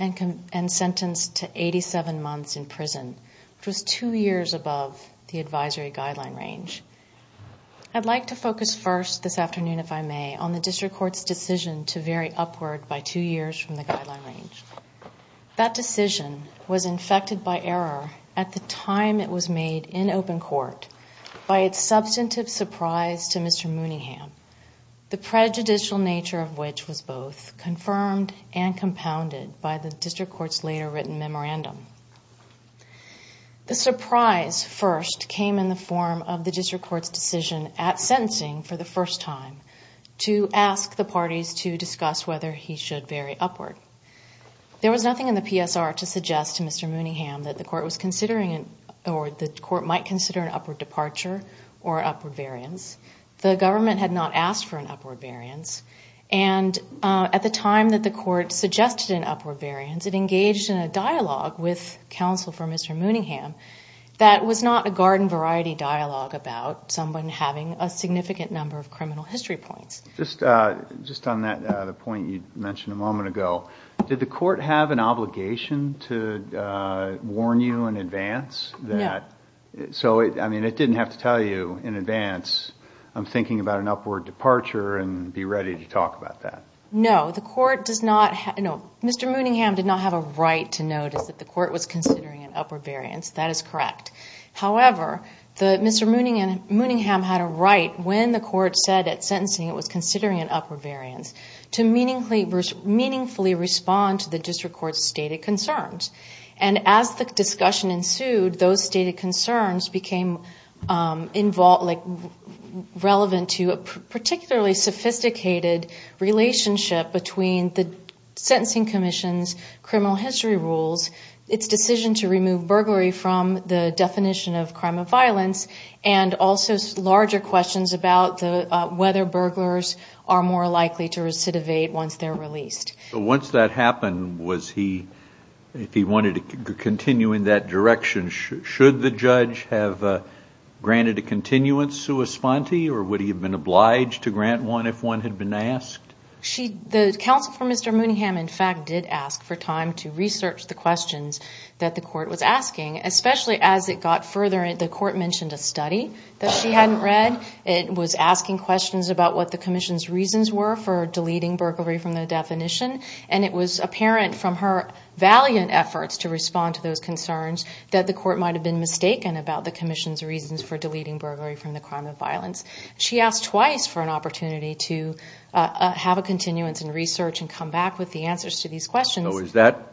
and sentenced to 87 months in prison, which was two years above the advisory guideline range. I'd like to focus first this afternoon, if I may, on the District Court's decision to vary upward by two years from the guideline range. That decision was infected by error at the time it was made in open court by its substantive surprise to Mr. Mooningham, the prejudicial nature of which was both confirmed and compounded by the District Court's later written memorandum. The surprise first came in the form of the District Court's decision at sentencing for the first time to ask the parties to discuss whether he should vary upward. There was nothing in the PSR to suggest to Mr. Mooningham that the court might consider an upward departure or upward variance. The government had not asked for an upward variance. And at the time that the court suggested an upward variance, it engaged in a dialogue with counsel for Mr. Mooningham that was not a garden variety dialogue about someone having a significant number of criminal history points. Just on the point you mentioned a moment ago, did the court have an obligation to warn you in advance? So it didn't have to tell you in advance, I'm thinking about an upward departure and be ready to talk about that. No, Mr. Mooningham did not have a right to notice that the court was considering an upward variance. That is correct. However, Mr. Mooningham had a right when the court said at sentencing it was considering an upward variance to meaningfully respond to the District Court's stated concerns. And as the discussion ensued, those stated concerns became relevant to a particularly sophisticated relationship between the Sentencing Commission's criminal history rules, its decision to remove burglary from the definition of crime of violence, and also larger questions about whether burglars are more likely to recidivate once they're released. So once that happened, if he wanted to continue in that direction, should the judge have granted a continuance sua sponte or would he have been obliged to grant one if one had been asked? The counsel for Mr. Mooningham, in fact, did ask for time to research the questions that the court was asking, especially as it got further and the court mentioned a study that she hadn't read. It was asking questions about what the Commission's reasons were for deleting burglary from the definition, and it was apparent from her valiant efforts to respond to those concerns that the court might have been mistaken about the Commission's reasons for deleting burglary from the crime of violence. She asked twice for an opportunity to have a continuance in research and come back with the answers to these questions. So is that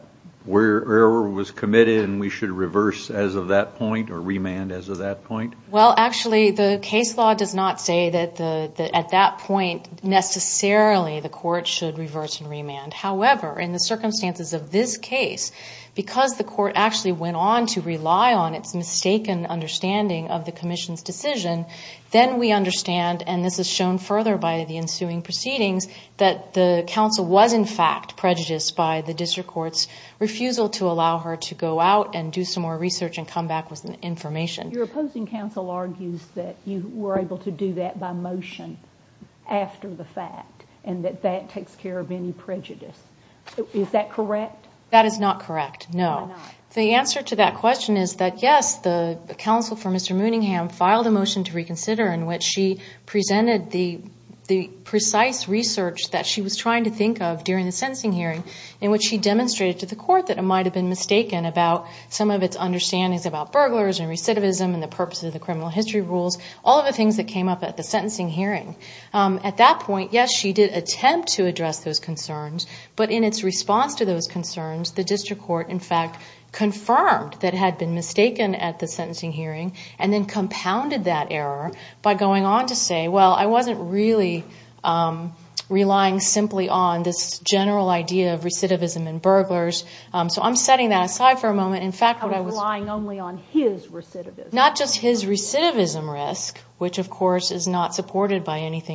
where error was committed and we should reverse as of that point or remand as of that point? Well, actually, the case law does not say that at that point necessarily the court should reverse and remand. However, in the circumstances of this case, because the court actually went on to rely on its mistaken understanding of the Commission's decision, then we understand, and this is shown further by the ensuing proceedings, that the counsel was in fact prejudiced by the district court's refusal to allow her to go out and do some more research and come back with information. Your opposing counsel argues that you were able to do that by motion after the fact and that that takes care of any prejudice. Is that correct? That is not correct, no. The answer to that question is that, yes, the counsel for Mr. Mooningham filed a motion to reconsider in which she presented the precise research that she was trying to think of during the sentencing hearing in which she demonstrated to the court that it might have been mistaken about some of its understandings about burglars and recidivism and the purpose of the criminal history rules, all of the things that came up at the sentencing hearing. At that point, yes, she did attempt to address those concerns, but in its response to those concerns, the district court in fact confirmed that it had been mistaken at the sentencing hearing and then compounded that error by going on to say, well, I wasn't really relying simply on this general idea of recidivism and burglars, so I'm setting that aside for a moment. I was relying only on his recidivism. Not just his recidivism risk, which, of course, is not supported by any of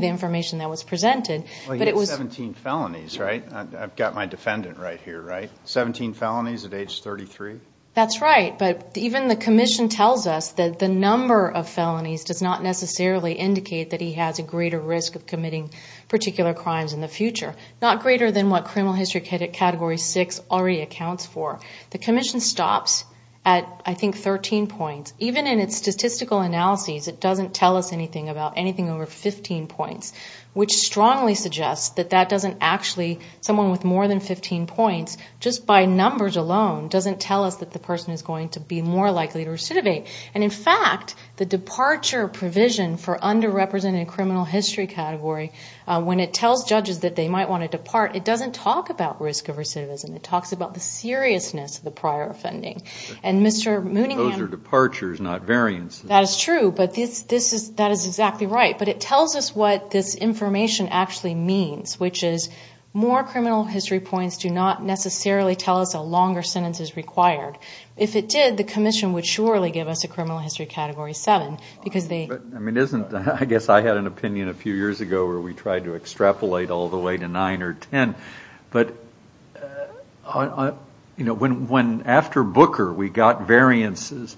the information that was presented. Well, he had 17 felonies, right? I've got my defendant right here, right? 17 felonies at age 33? That's right, but even the commission tells us that the number of felonies does not necessarily indicate that he has a greater risk of committing particular crimes in the future, not greater than what criminal history category 6 already accounts for. The commission stops at, I think, 13 points. Even in its statistical analyses, it doesn't tell us anything about anything over 15 points, which strongly suggests that that doesn't actually, someone with more than 15 points, just by numbers alone, doesn't tell us that the person is going to be more likely to recidivate. And, in fact, the departure provision for underrepresented criminal history category, when it tells judges that they might want to depart, it doesn't talk about risk of recidivism. It talks about the seriousness of the prior offending. Those are departures, not variances. That is true, but that is exactly right. But it tells us what this information actually means, which is more criminal history points do not necessarily tell us a longer sentence is required. If it did, the commission would surely give us a criminal history category 7. I guess I had an opinion a few years ago where we tried to extrapolate all the way to 9 or 10, but after Booker, we got variances,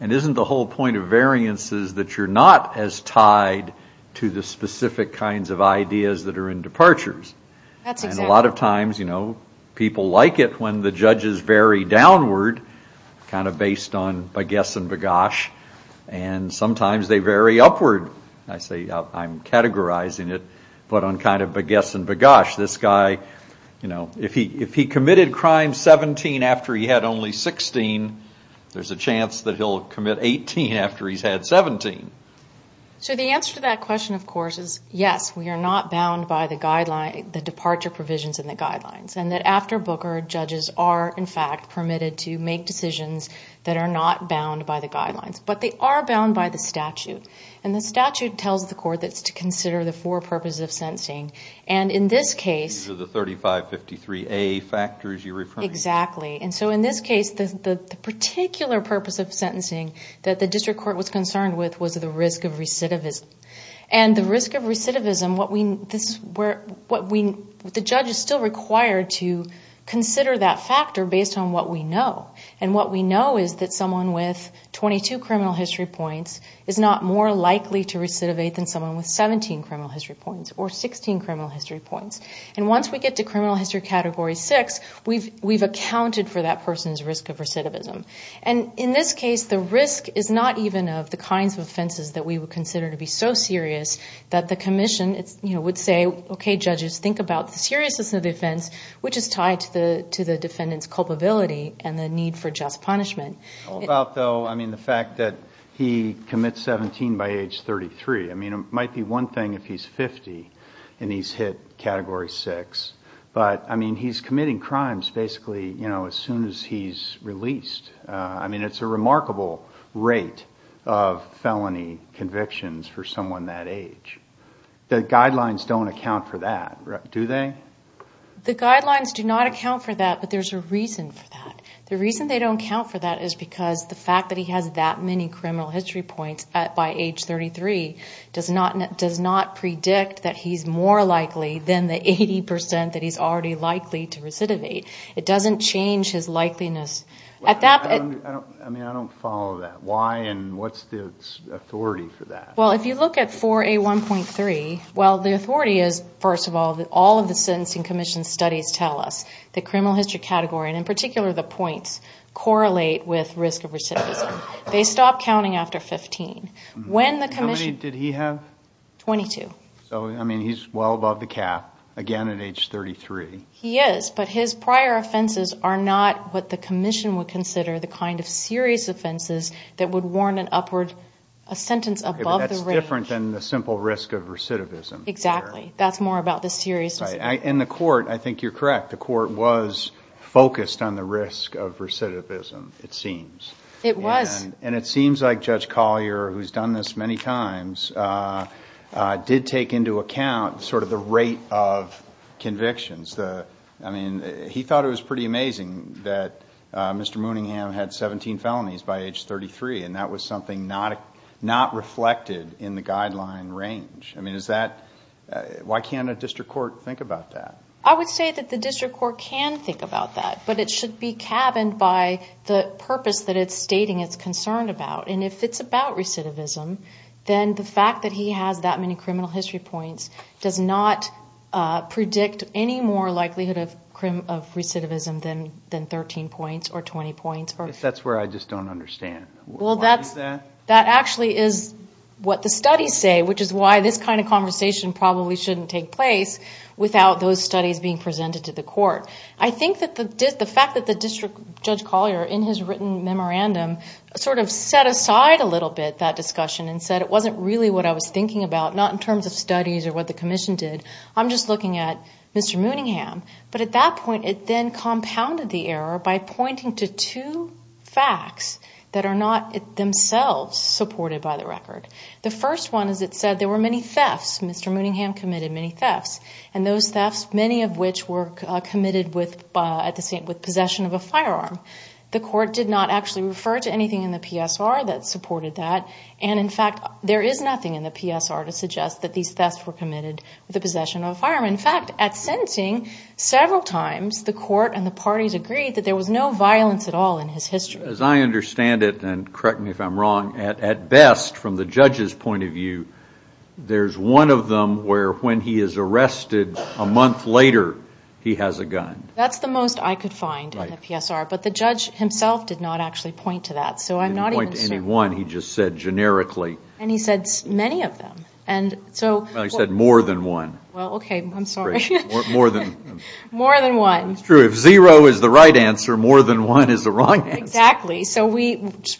and isn't the whole point of variances that you're not as tied to the specific kinds of ideas that are in departures? That's exactly right. And a lot of times, people like it when the judges vary downward, kind of based on bagasse and bagasse, and sometimes they vary upward. I say I'm categorizing it, but on kind of bagasse and bagasse. This guy, if he committed crime 17 after he had only 16, there's a chance that he'll commit 18 after he's had 17. So the answer to that question, of course, is yes, we are not bound by the departure provisions in the guidelines, and that after Booker, judges are, in fact, permitted to make decisions that are not bound by the guidelines, but they are bound by the statute, and the statute tells the court that it's to consider the four purposes of sentencing, and in this case, These are the 3553A factors you're referring to. Exactly, and so in this case, the particular purpose of sentencing that the district court was concerned with was the risk of recidivism, and the risk of recidivism, the judge is still required to consider that factor based on what we know, and what we know is that someone with 22 criminal history points is not more likely to recidivate than someone with 17 criminal history points or 16 criminal history points, and once we get to criminal history category six, we've accounted for that person's risk of recidivism, and in this case, the risk is not even of the kinds of offenses that we would consider to be so serious that the commission would say, okay, judges, think about the seriousness of the offense, which is tied to the defendant's culpability and the need for just punishment. How about, though, the fact that he commits 17 by age 33? It might be one thing if he's 50 and he's hit category six, but he's committing crimes basically as soon as he's released. It's a remarkable rate of felony convictions for someone that age. The guidelines don't account for that, do they? The guidelines do not account for that, but there's a reason for that. The reason they don't account for that is because the fact that he has that many criminal history points by age 33 does not predict that he's more likely than the 80 percent that he's already likely to recidivate. It doesn't change his likeliness. I mean, I don't follow that. Why and what's the authority for that? Well, if you look at 4A1.3, well, the authority is, first of all, all of the sentencing commission studies tell us that criminal history category, and in particular the points, correlate with risk of recidivism. They stop counting after 15. How many did he have? 22. So, I mean, he's well above the cap, again at age 33. He is, but his prior offenses are not what the commission would consider the kind of serious offenses that would warrant an upward sentence above the range. That's different than the simple risk of recidivism. Exactly. That's more about the serious. And the court, I think you're correct, the court was focused on the risk of recidivism, it seems. It was. And it seems like Judge Collier, who's done this many times, did take into account sort of the rate of convictions. I mean, he thought it was pretty amazing that Mr. Mooningham had 17 felonies by age 33, and that was something not reflected in the guideline range. I mean, why can't a district court think about that? I would say that the district court can think about that, but it should be cabined by the purpose that it's stating it's concerned about. And if it's about recidivism, then the fact that he has that many criminal history points does not predict any more likelihood of recidivism than 13 points or 20 points. That's where I just don't understand. Well, that actually is what the studies say, which is why this kind of conversation probably shouldn't take place without those studies being presented to the court. I think that the fact that the district judge Collier in his written memorandum sort of set aside a little bit that discussion and said it wasn't really what I was thinking about, not in terms of studies or what the commission did. I'm just looking at Mr. Mooningham. But at that point, it then compounded the error by pointing to two facts that are not themselves supported by the record. The first one is it said there were many thefts. Mr. Mooningham committed many thefts, and those thefts, many of which were committed with possession of a firearm. The court did not actually refer to anything in the PSR that supported that. And, in fact, there is nothing in the PSR to suggest that these thefts were committed with the possession of a firearm. In fact, at sentencing, several times the court and the parties agreed that there was no violence at all in his history. As I understand it, and correct me if I'm wrong, at best from the judge's point of view, there's one of them where when he is arrested a month later, he has a gun. That's the most I could find in the PSR. But the judge himself did not actually point to that. He didn't point to any one, he just said generically. And he said many of them. Well, he said more than one. Well, okay, I'm sorry. More than one. It's true. If zero is the right answer, more than one is the wrong answer. Exactly.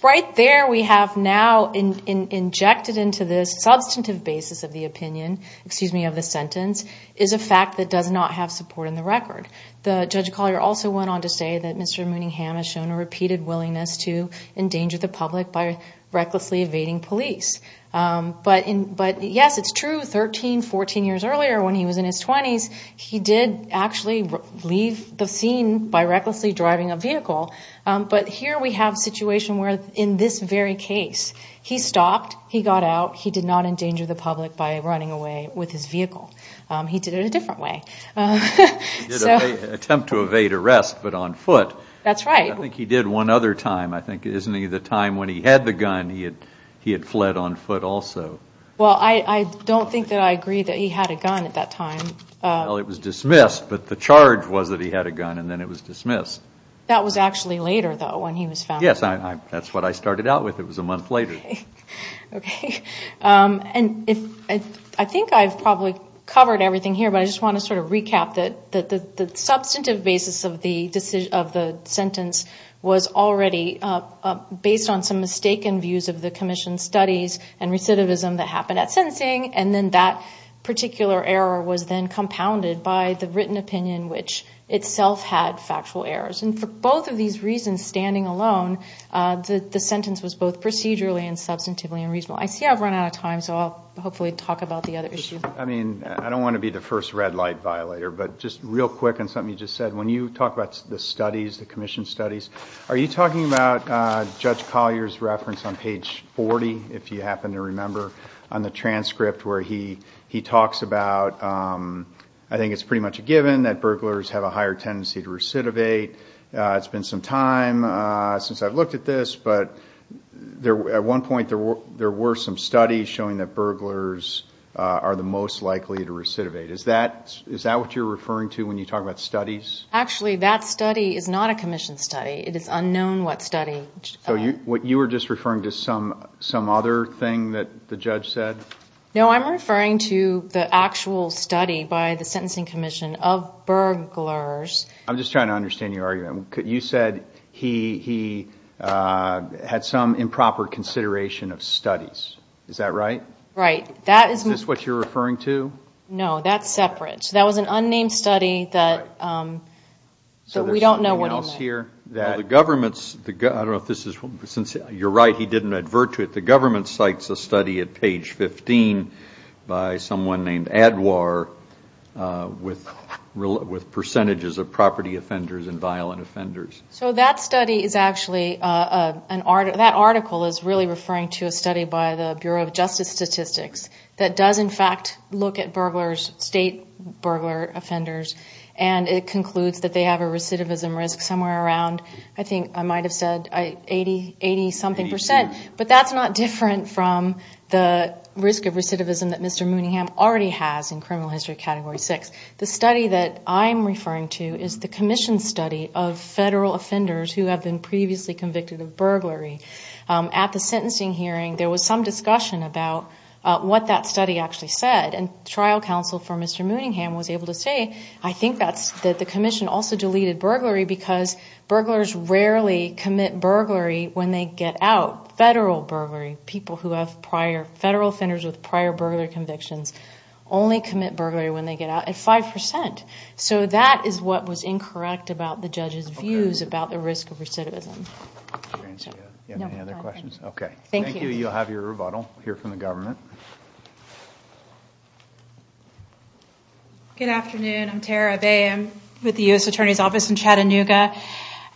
Right there we have now injected into this substantive basis of the opinion, excuse me, of the sentence, is a fact that does not have support in the record. Judge Collier also went on to say that Mr. Mooningham has shown a repeated willingness to endanger the public by recklessly evading police. But, yes, it's true, 13, 14 years earlier when he was in his 20s, he did actually leave the scene by recklessly driving a vehicle. But here we have a situation where, in this very case, he stopped, he got out, he did not endanger the public by running away with his vehicle. He did it a different way. He did attempt to evade arrest, but on foot. That's right. I think he did one other time. I think, isn't he, the time when he had the gun, he had fled on foot also. Well, I don't think that I agree that he had a gun at that time. Well, it was dismissed, but the charge was that he had a gun, and then it was dismissed. That was actually later, though, when he was found. Yes, that's what I started out with. It was a month later. Okay. And I think I've probably covered everything here, but I just want to sort of recap that the substantive basis of the sentence was already based on some mistaken views of the commission's studies and recidivism that happened at sentencing, and then that particular error was then compounded by the written opinion, which itself had factual errors. And for both of these reasons, standing alone, the sentence was both procedurally and substantively unreasonable. I see I've run out of time, so I'll hopefully talk about the other issues. I mean, I don't want to be the first red light violator, but just real quick on something you just said. When you talk about the studies, the commission studies, are you talking about Judge Collier's reference on page 40, if you happen to remember, on the transcript where he talks about, I think it's pretty much a given that burglars have a higher tendency to recidivate. It's been some time since I've looked at this, but at one point there were some studies showing that burglars are the most likely to recidivate. Is that what you're referring to when you talk about studies? Actually, that study is not a commission study. It is unknown what study. So you were just referring to some other thing that the judge said? No, I'm referring to the actual study by the Sentencing Commission of burglars. I'm just trying to understand your argument. You said he had some improper consideration of studies. Is that right? Right. Is this what you're referring to? No, that's separate. That was an unnamed study that we don't know what it meant. The government's, I don't know if this is, since you're right, he didn't advert to it, but the government cites a study at page 15 by someone named Adwar with percentages of property offenders and violent offenders. So that study is actually, that article is really referring to a study by the Bureau of Justice Statistics that does, in fact, look at state burglar offenders and it concludes that they have a recidivism risk somewhere around, I think I might have said, 80-something percent. But that's not different from the risk of recidivism that Mr. Mooningham already has in criminal history category 6. The study that I'm referring to is the commission study of federal offenders who have been previously convicted of burglary. At the sentencing hearing, there was some discussion about what that study actually said, and trial counsel for Mr. Mooningham was able to say, I think that the commission also deleted burglary because burglars rarely commit burglary when they get out. Federal burglary, people who have prior, federal offenders with prior burglar convictions only commit burglary when they get out at 5%. So that is what was incorrect about the judge's views about the risk of recidivism. Do you have any other questions? Okay. Thank you. You'll have your rebuttal. We'll hear from the government. Good afternoon. I'm Tara Bay. I'm with the U.S. Attorney's Office in Chattanooga.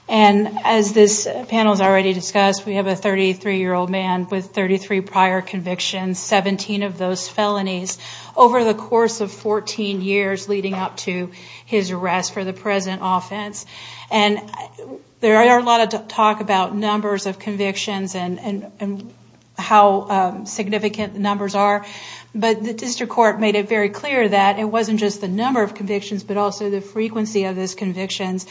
And as this panel has already discussed, we have a 33-year-old man with 33 prior convictions, 17 of those felonies, over the course of 14 years leading up to his arrest for the present offense. And there are a lot of talk about numbers of convictions and how significant the numbers are. But the district court made it very clear that it wasn't just the number of convictions but also the frequency of those convictions.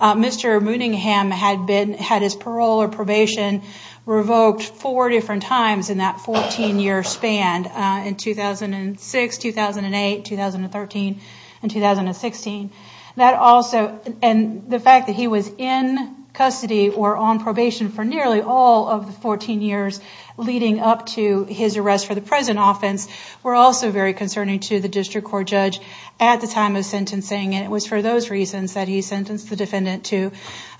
Mr. Mooningham had his parole or probation revoked four different times in that 14-year span, in 2006, 2008, 2013, and 2016. And the fact that he was in custody or on probation for nearly all of the 14 years leading up to his arrest for the present offense were also very concerning to the district court judge at the time of sentencing. And it was for those reasons that he sentenced the defendant to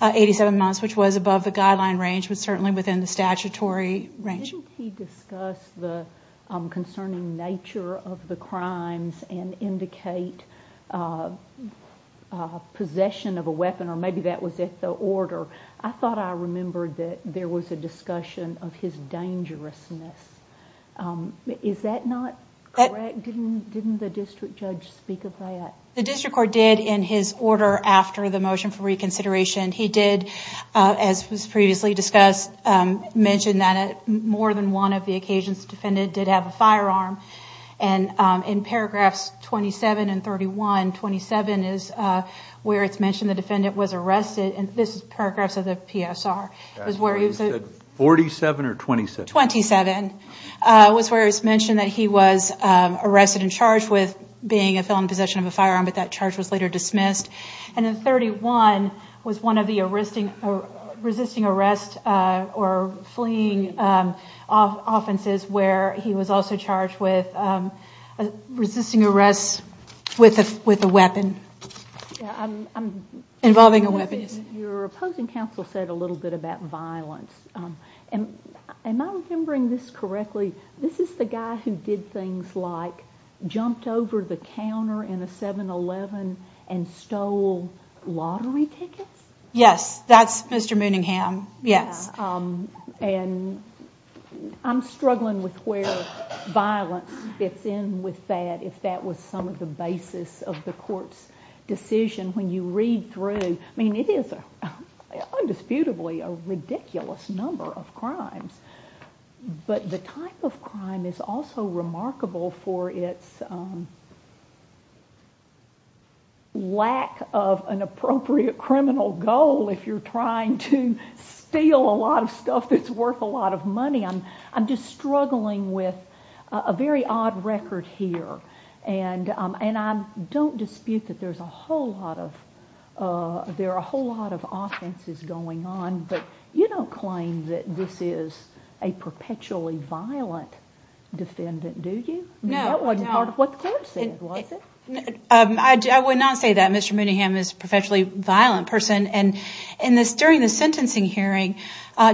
87 months, which was above the guideline range but certainly within the statutory range. When he discussed the concerning nature of the crimes and indicate possession of a weapon, or maybe that was at the order, I thought I remembered that there was a discussion of his dangerousness. Is that not correct? Didn't the district judge speak of that? The district court did in his order after the motion for reconsideration. He did, as was previously discussed, mention that more than one of the occasions the defendant did have a firearm. And in paragraphs 27 and 31, 27 is where it's mentioned the defendant was arrested. And this is paragraphs of the PSR. It was where he was at 47 or 27? 27 was where it was mentioned that he was arrested and charged with being a felon in possession of a firearm, but that charge was later dismissed. And then 31 was one of the resisting arrest or fleeing offenses where he was also charged with resisting arrest with a weapon, involving a weapon. Your opposing counsel said a little bit about violence. Am I remembering this correctly? This is the guy who did things like jumped over the counter in a 7-Eleven and stole lottery tickets? Yes, that's Mr. Mooningham, yes. And I'm struggling with where violence fits in with that, if that was some of the basis of the court's decision. When you read through, I mean, it is undisputably a ridiculous number of crimes, but the type of crime is also remarkable for its lack of an appropriate criminal goal if you're trying to steal a lot of stuff that's worth a lot of money. I'm just struggling with a very odd record here, and I don't dispute that there are a whole lot of offenses going on, but you don't claim that this is a perpetually violent defendant, do you? No, no. That wasn't part of what the court said, was it? I would not say that Mr. Mooningham is a perpetually violent person. And during the sentencing hearing,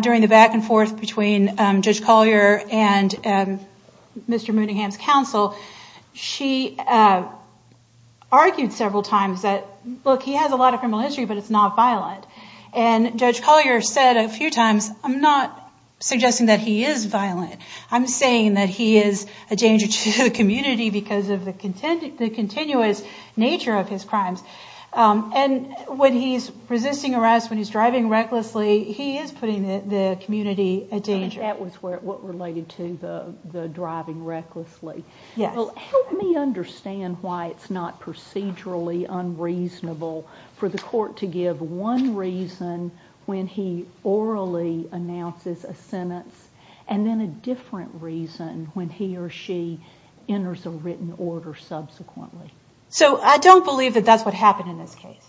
during the back and forth between Judge Collier and Mr. Mooningham's counsel, she argued several times that, look, he has a lot of criminal history, but it's not violent. And Judge Collier said a few times, I'm not suggesting that he is violent. I'm saying that he is a danger to the community because of the continuous nature of his crimes. And when he's resisting arrest, when he's driving recklessly, he is putting the community at danger. That was what related to the driving recklessly. Yes. Well, help me understand why it's not procedurally unreasonable for the court to give one reason when he orally announces a sentence and then a different reason when he or she enters a written order subsequently. So I don't believe that that's what happened in this case.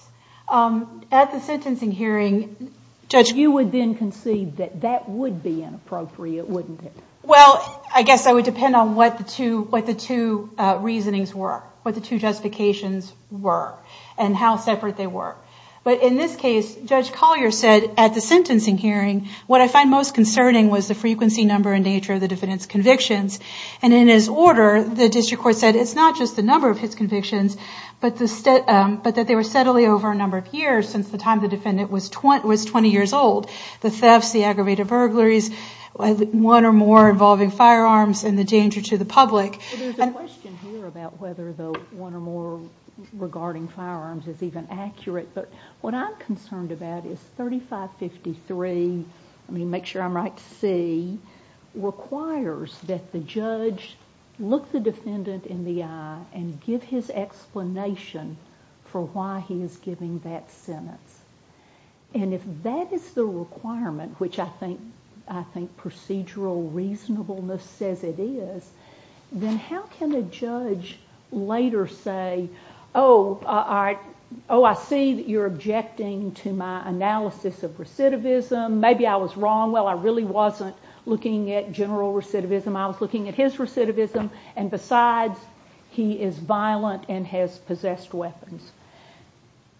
At the sentencing hearing, Judge- You would then concede that that would be inappropriate, wouldn't it? Well, I guess I would depend on what the two reasonings were, what the two justifications were, and how separate they were. But in this case, Judge Collier said at the sentencing hearing, what I find most concerning was the frequency, number, and nature of the defendant's convictions. And in his order, the district court said it's not just the number of his convictions, but that they were steadily over a number of years since the time the defendant was 20 years old. The thefts, the aggravated burglaries, one or more involving firearms and the danger to the public- Well, there's a question here about whether the one or more regarding firearms is even accurate. But what I'm concerned about is 3553, I mean, make sure I'm right to see, requires that the judge look the defendant in the eye and give his explanation for why he is giving that sentence. And if that is the requirement, which I think procedural reasonableness says it is, then how can a judge later say, oh, I see that you're objecting to my analysis of recidivism, maybe I was wrong, well, I really wasn't looking at general recidivism, I was looking at his recidivism, and besides, he is violent and has possessed weapons.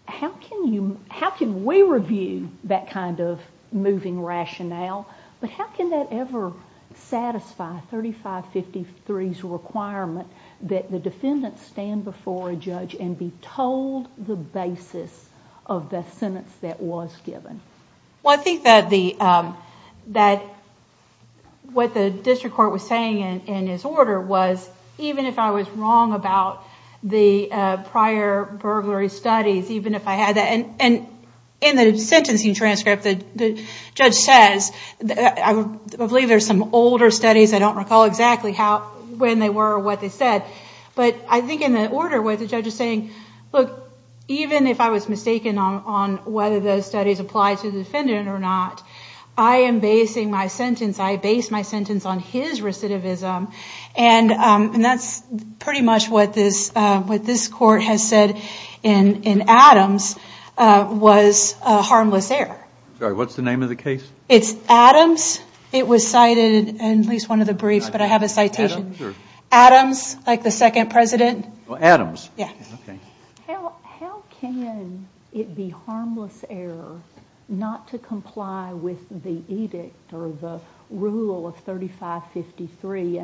How can we review that kind of moving rationale? But how can that ever satisfy 3553's requirement that the defendant stand before a judge and be told the basis of the sentence that was given? Well, I think that what the district court was saying in his order was, even if I was wrong about the prior burglary studies, even if I had that, and in the sentencing transcript, the judge says, I believe there's some older studies, I don't recall exactly when they were or what they said, but I think in the order where the judge is saying, look, even if I was mistaken on whether those studies apply to the defendant or not, I am basing my sentence, I base my sentence on his recidivism, and that's pretty much what this court has said in Adams was harmless error. Sorry, what's the name of the case? It's Adams. It was cited in at least one of the briefs, but I have a citation. Adams? Adams, like the second president. Adams. Yeah. Okay. How can it be harmless error not to comply with the edict or the rule of 3553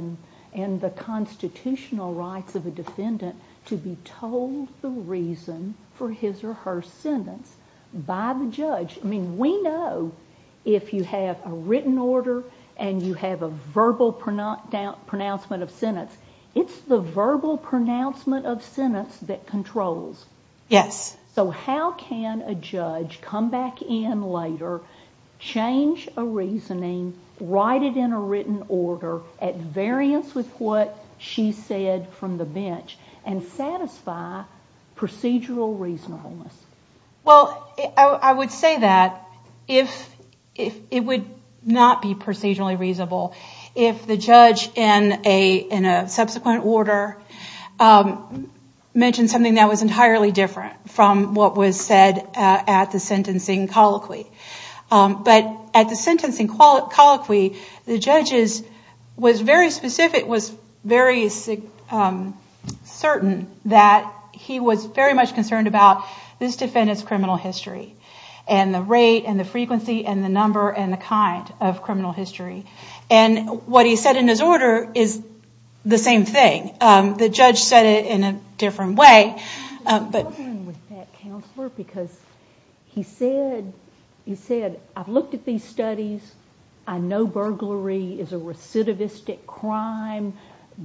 and the constitutional rights of a defendant to be told the reason for his or her sentence by the judge? I mean, we know if you have a written order and you have a verbal pronouncement of sentence, it's the verbal pronouncement of sentence that controls. Yes. So how can a judge come back in later, change a reasoning, write it in a written order at variance with what she said from the bench, and satisfy procedural reasonableness? Well, I would say that if it would not be procedurally reasonable, if the judge in a subsequent order mentioned something that was entirely different from what was said at the sentencing colloquy. But at the sentencing colloquy, the judge was very specific, was very certain that he was very much concerned about this defendant's criminal history and the rate and the frequency and the number and the kind of criminal history. And what he said in his order is the same thing. The judge said it in a different way. I'm struggling with that, Counselor, because he said, I've looked at these studies, I know burglary is a recidivistic crime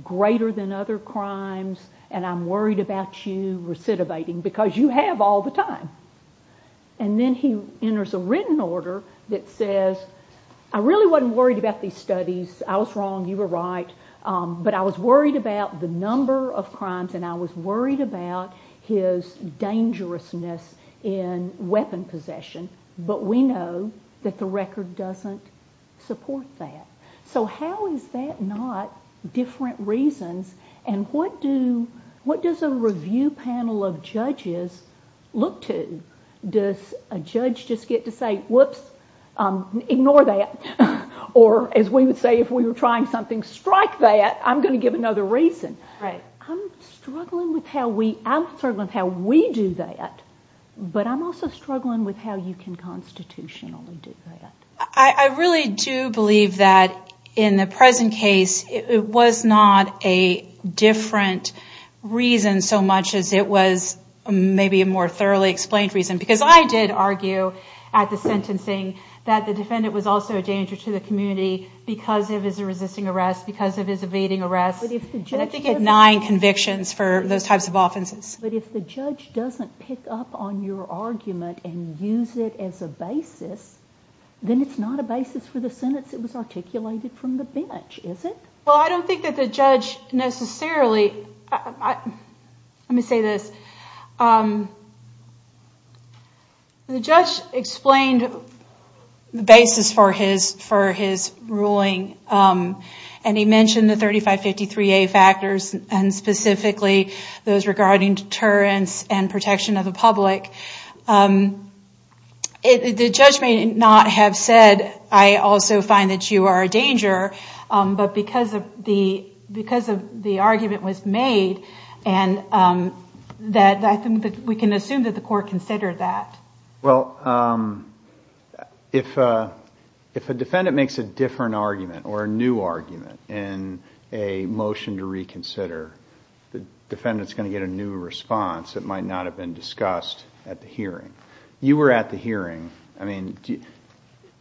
greater than other crimes, and I'm worried about you recidivating because you have all the time. And then he enters a written order that says, I really wasn't worried about these studies, I was wrong, you were right, but I was worried about the number of crimes and I was worried about his dangerousness in weapon possession, but we know that the record doesn't support that. So how is that not different reasons, and what does a review panel of judges look to? Does a judge just get to say, whoops, ignore that, or as we would say if we were trying something, strike that, I'm going to give another reason. I'm struggling with how we do that, but I'm also struggling with how you can constitutionally do that. I really do believe that in the present case, it was not a different reason so much as it was maybe a more thoroughly explained reason, because I did argue at the sentencing that the defendant was also a danger to the community because of his resisting arrest, because of his evading arrest, and I think he had nine convictions for those types of offenses. But if the judge doesn't pick up on your argument and use it as a basis, then it's not a basis for the sentence that was articulated from the bench, is it? Well, I don't think that the judge necessarily, let me say this, the judge explained the basis for his ruling, and he mentioned the 3553A factors, and specifically those regarding deterrence and protection of the public. The judge may not have said, I also find that you are a danger, but because the argument was made, we can assume that the court considered that. Well, if a defendant makes a different argument or a new argument in a motion to reconsider, the defendant is going to get a new response that might not have been discussed at the hearing. You were at the hearing. I mean,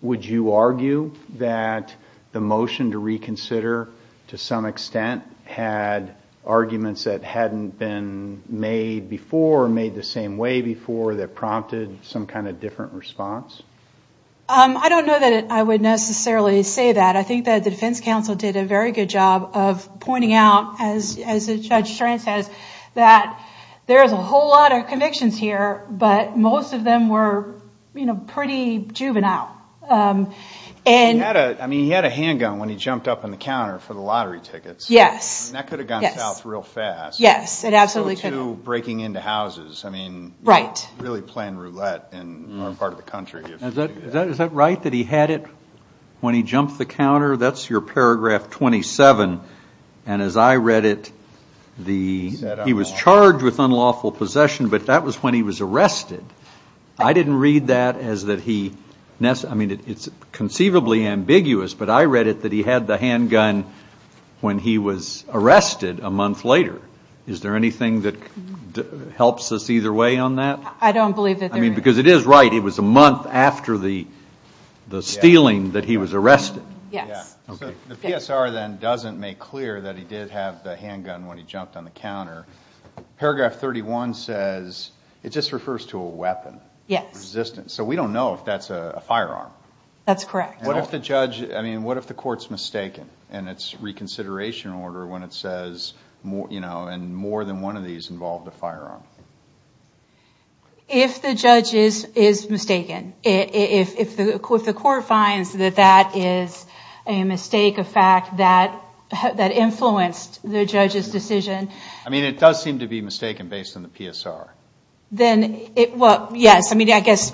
would you argue that the motion to reconsider, to some extent, had arguments that hadn't been made before, or made the same way before that prompted some kind of different response? I don't know that I would necessarily say that. I think that the defense counsel did a very good job of pointing out, as Judge Strand says, that there's a whole lot of convictions here, but most of them were pretty juvenile. I mean, he had a handgun when he jumped up on the counter for the lottery tickets. Yes. That could have gone south real fast. Yes, it absolutely could have. No breaking into houses. I mean, really playing roulette in our part of the country. Is that right, that he had it when he jumped the counter? That's your paragraph 27, and as I read it, he was charged with unlawful possession, but that was when he was arrested. I didn't read that as that he – I mean, it's conceivably ambiguous, but I read it that he had the handgun when he was arrested a month later. Is there anything that helps us either way on that? I don't believe that there is. I mean, because it is right. It was a month after the stealing that he was arrested. Yes. The PSR then doesn't make clear that he did have the handgun when he jumped on the counter. Paragraph 31 says – it just refers to a weapon. Yes. Resistance. So we don't know if that's a firearm. That's correct. What if the judge – I mean, what if the court's mistaken in its reconsideration order when it says more than one of these involved a firearm? If the judge is mistaken, if the court finds that that is a mistake, a fact that influenced the judge's decision. I mean, it does seem to be mistaken based on the PSR. Well, yes. I mean, I guess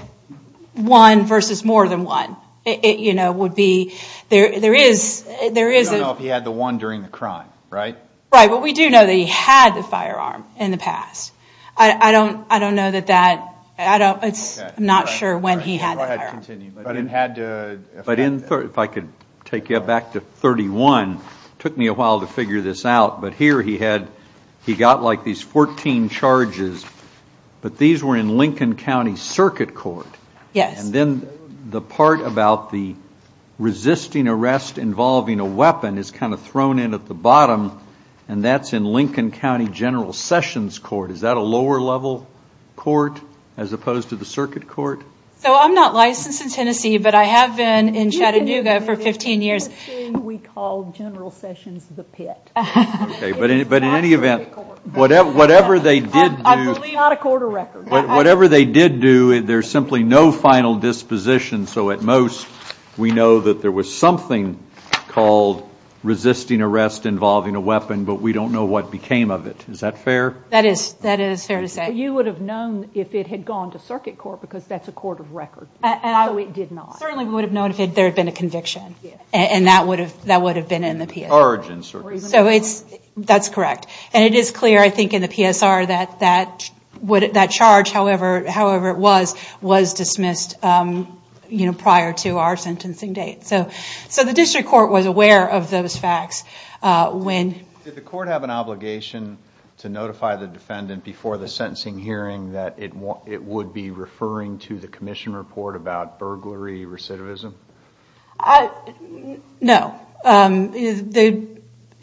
one versus more than one would be – there is – We don't know if he had the one during the crime, right? Right. But we do know that he had the firearm in the past. I don't know that that – I'm not sure when he had the firearm. Go ahead. Continue. But if I could take you back to 31. It took me a while to figure this out. But here he had – he got, like, these 14 charges, but these were in Lincoln County Circuit Court. Yes. And then the part about the resisting arrest involving a weapon is kind of thrown in at the bottom, and that's in Lincoln County General Sessions Court. Is that a lower-level court as opposed to the circuit court? So I'm not licensed in Tennessee, but I have been in Chattanooga for 15 years. We call General Sessions the pit. Okay. But in any event, whatever they did do – I believe not a court of record. Whatever they did do, there's simply no final disposition. So at most we know that there was something called resisting arrest involving a weapon, but we don't know what became of it. Is that fair? That is fair to say. But you would have known if it had gone to circuit court because that's a court of record. So it did not. Certainly we would have known if there had been a conviction, and that would have been in the PSR. The origin, certainly. So that's correct. And it is clear, I think, in the PSR that that charge, however it was, was dismissed prior to our sentencing date. So the district court was aware of those facts when – Did the court have an obligation to notify the defendant before the sentencing hearing that it would be referring to the commission report about burglary, recidivism? No.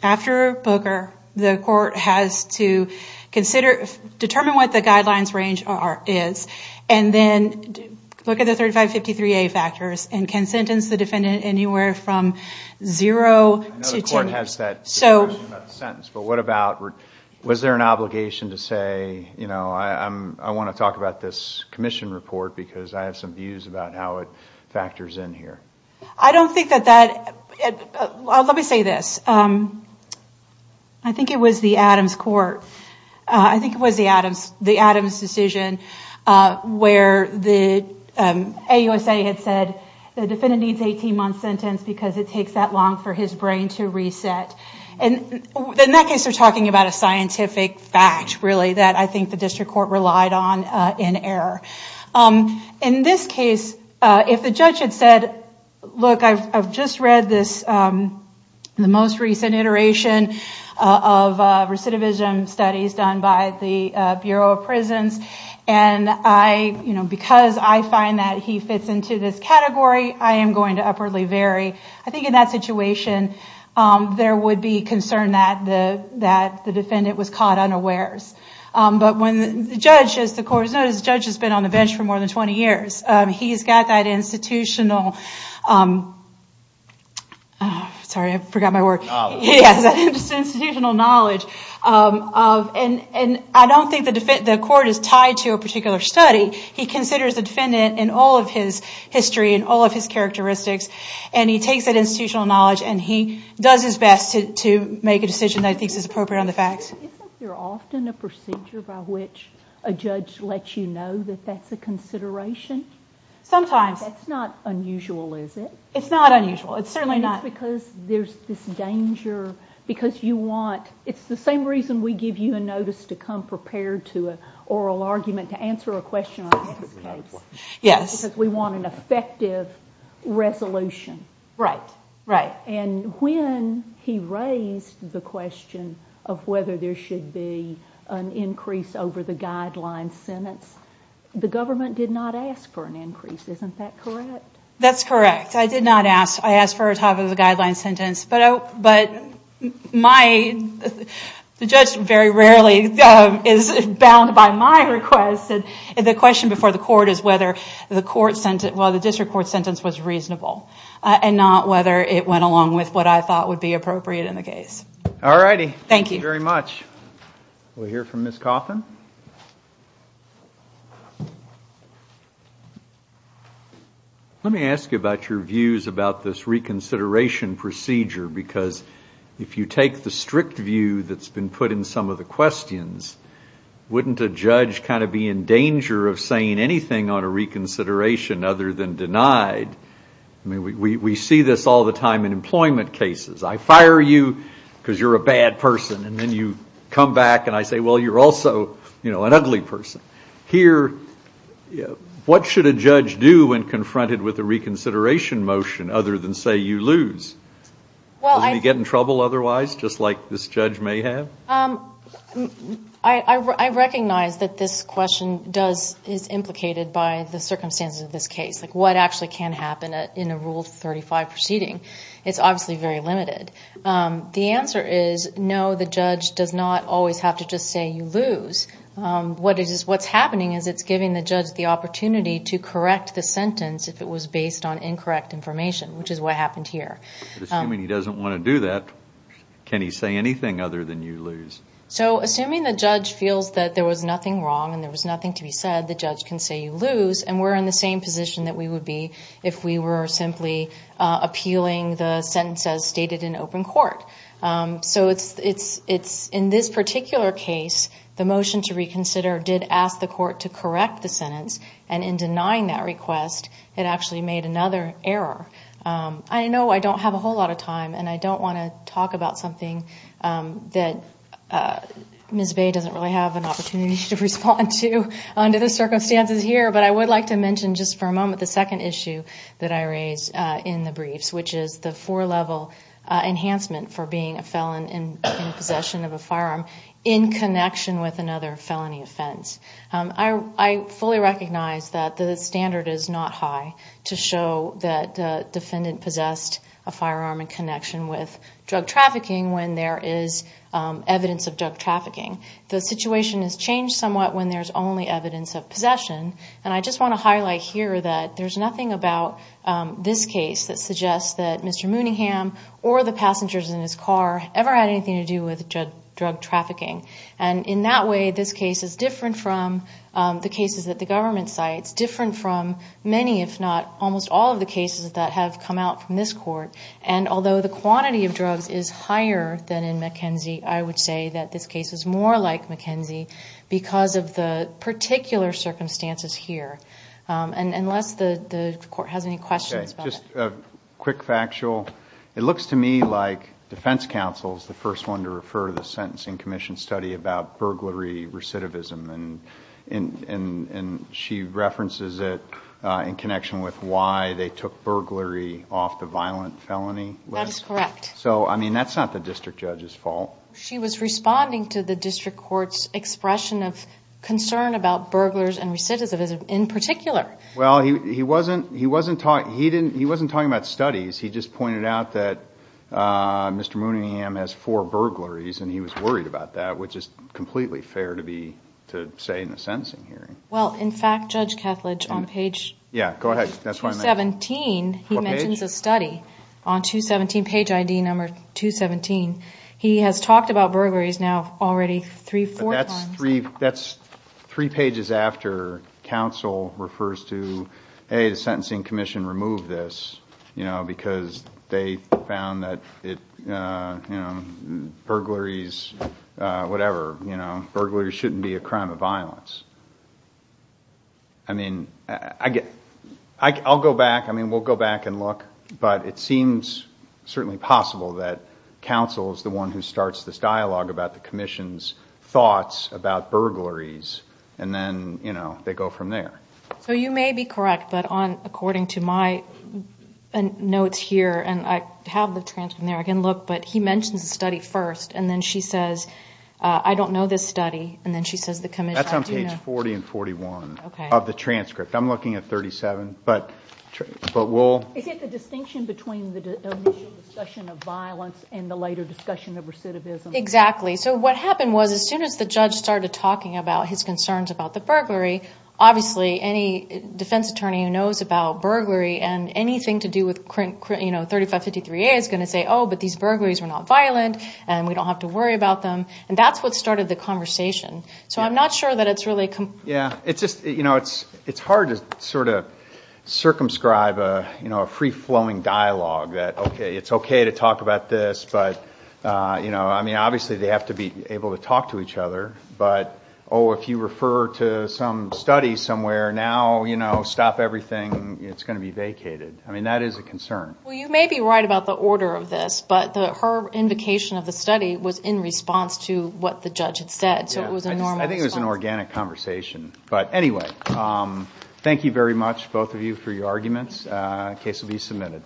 After Booker, the court has to determine what the guidelines range is, and then look at the 3553A factors and can sentence the defendant anywhere from zero to two years. I know the court has that determination about the sentence, but what about – I want to talk about this commission report because I have some views about how it factors in here. I don't think that that – let me say this. I think it was the Adams court. I think it was the Adams decision where the AUSA had said, the defendant needs an 18-month sentence because it takes that long for his brain to reset. In that case, they're talking about a scientific fact, really, that I think the district court relied on in error. In this case, if the judge had said, look, I've just read the most recent iteration of recidivism studies done by the Bureau of Prisons, and because I find that he fits into this category, I am going to upwardly vary. I think in that situation, there would be concern that the defendant was caught unawares. But when the judge, as the court has noticed, the judge has been on the bench for more than 20 years. He's got that institutional – sorry, I forgot my word. Institutional knowledge. Yes, institutional knowledge. I don't think the court is tied to a particular study. He considers the defendant in all of his history and all of his characteristics, and he takes that institutional knowledge, and he does his best to make a decision that he thinks is appropriate on the facts. Isn't there often a procedure by which a judge lets you know that that's a consideration? Sometimes. That's not unusual, is it? It's not unusual. It's certainly not – Because there's this danger, because you want – it's the same reason we give you a notice to come prepared to an oral argument to answer a question on this case. Yes. Because we want an effective resolution. Right, right. And when he raised the question of whether there should be an increase over the guideline sentence, the government did not ask for an increase. Isn't that correct? That's correct. I did not ask. I asked for a top-of-the-guideline sentence. But my – the judge very rarely is bound by my request. The question before the court is whether the district court sentence was reasonable and not whether it went along with what I thought would be appropriate in the case. All righty. Thank you. Thank you very much. We'll hear from Ms. Coffin. Let me ask you about your views about this reconsideration procedure, because if you take the strict view that's been put in some of the questions, wouldn't a judge kind of be in danger of saying anything on a reconsideration other than denied? I mean, we see this all the time in employment cases. I fire you because you're a bad person, and then you come back and I say, well, you're also an ugly person. Here, what should a judge do when confronted with a reconsideration motion other than say you lose? Doesn't he get in trouble otherwise, just like this judge may have? I recognize that this question is implicated by the circumstances of this case, like what actually can happen in a Rule 35 proceeding. It's obviously very limited. The answer is no, the judge does not always have to just say you lose. What's happening is it's giving the judge the opportunity to correct the sentence if it was based on incorrect information, which is what happened here. Assuming he doesn't want to do that, can he say anything other than you lose? Assuming the judge feels that there was nothing wrong and there was nothing to be said, the judge can say you lose, and we're in the same position that we would be if we were simply appealing the sentence as stated in open court. In this particular case, the motion to reconsider did ask the court to correct the sentence, and in denying that request, it actually made another error. I know I don't have a whole lot of time, and I don't want to talk about something that Ms. Bay doesn't really have an opportunity to respond to under the circumstances here, but I would like to mention just for a moment the second issue that I raised in the briefs, which is the four-level enhancement for being a felon in possession of a firearm in connection with another felony offense. I fully recognize that the standard is not high to show that the defendant possessed a firearm in connection with drug trafficking when there is evidence of drug trafficking. The situation has changed somewhat when there's only evidence of possession, and I just want to highlight here that there's nothing about this case that suggests that Mr. Mooneyham or the passengers in his car ever had anything to do with drug trafficking. In that way, this case is different from the cases that the government cites, different from many if not almost all of the cases that have come out from this court, and although the quantity of drugs is higher than in McKenzie, I would say that this case is more like McKenzie because of the particular circumstances here. Unless the court has any questions about that. Okay, just a quick factual. It looks to me like defense counsel is the first one to refer to the sentencing commission study about burglary recidivism, and she references it in connection with why they took burglary off the violent felony list. That is correct. So, I mean, that's not the district judge's fault. She was responding to the district court's expression of concern about burglars and recidivism in particular. Well, he wasn't talking about studies. He just pointed out that Mr. Mooneyham has four burglaries, and he was worried about that, which is completely fair to say in a sentencing hearing. Well, in fact, Judge Kethledge, on page 217, he mentions a study. On 217, page ID number 217, he has talked about burglaries now already three, four times. That's three pages after counsel refers to, hey, the sentencing commission removed this because they found that burglaries, whatever, burglary shouldn't be a crime of violence. I mean, I'll go back. I mean, we'll go back and look, but it seems certainly possible that counsel is the one who starts this dialogue about the commission's thoughts about burglaries, and then, you know, they go from there. So you may be correct, but according to my notes here, and I have the transcript in there, I can look, but he mentions the study first, and then she says, I don't know this study, and then she says the commission. That's on page 40 and 41 of the transcript. I'm looking at 37. Is it the distinction between the initial discussion of violence and the later discussion of recidivism? Exactly. So what happened was as soon as the judge started talking about his concerns about the burglary, obviously any defense attorney who knows about burglary and anything to do with 3553A is going to say, oh, but these burglaries were not violent, and we don't have to worry about them, and that's what started the conversation. So I'm not sure that it's really – Yeah, it's just, you know, it's hard to sort of circumscribe, you know, a free-flowing dialogue that, okay, it's okay to talk about this, but, you know, I mean, obviously they have to be able to talk to each other, but, oh, if you refer to some study somewhere, now, you know, stop everything, it's going to be vacated. I mean, that is a concern. Well, you may be right about the order of this, but her invocation of the study was in response to what the judge had said, so it was a normal response. I think it was an organic conversation. But anyway, thank you very much, both of you, for your arguments. The case will be submitted.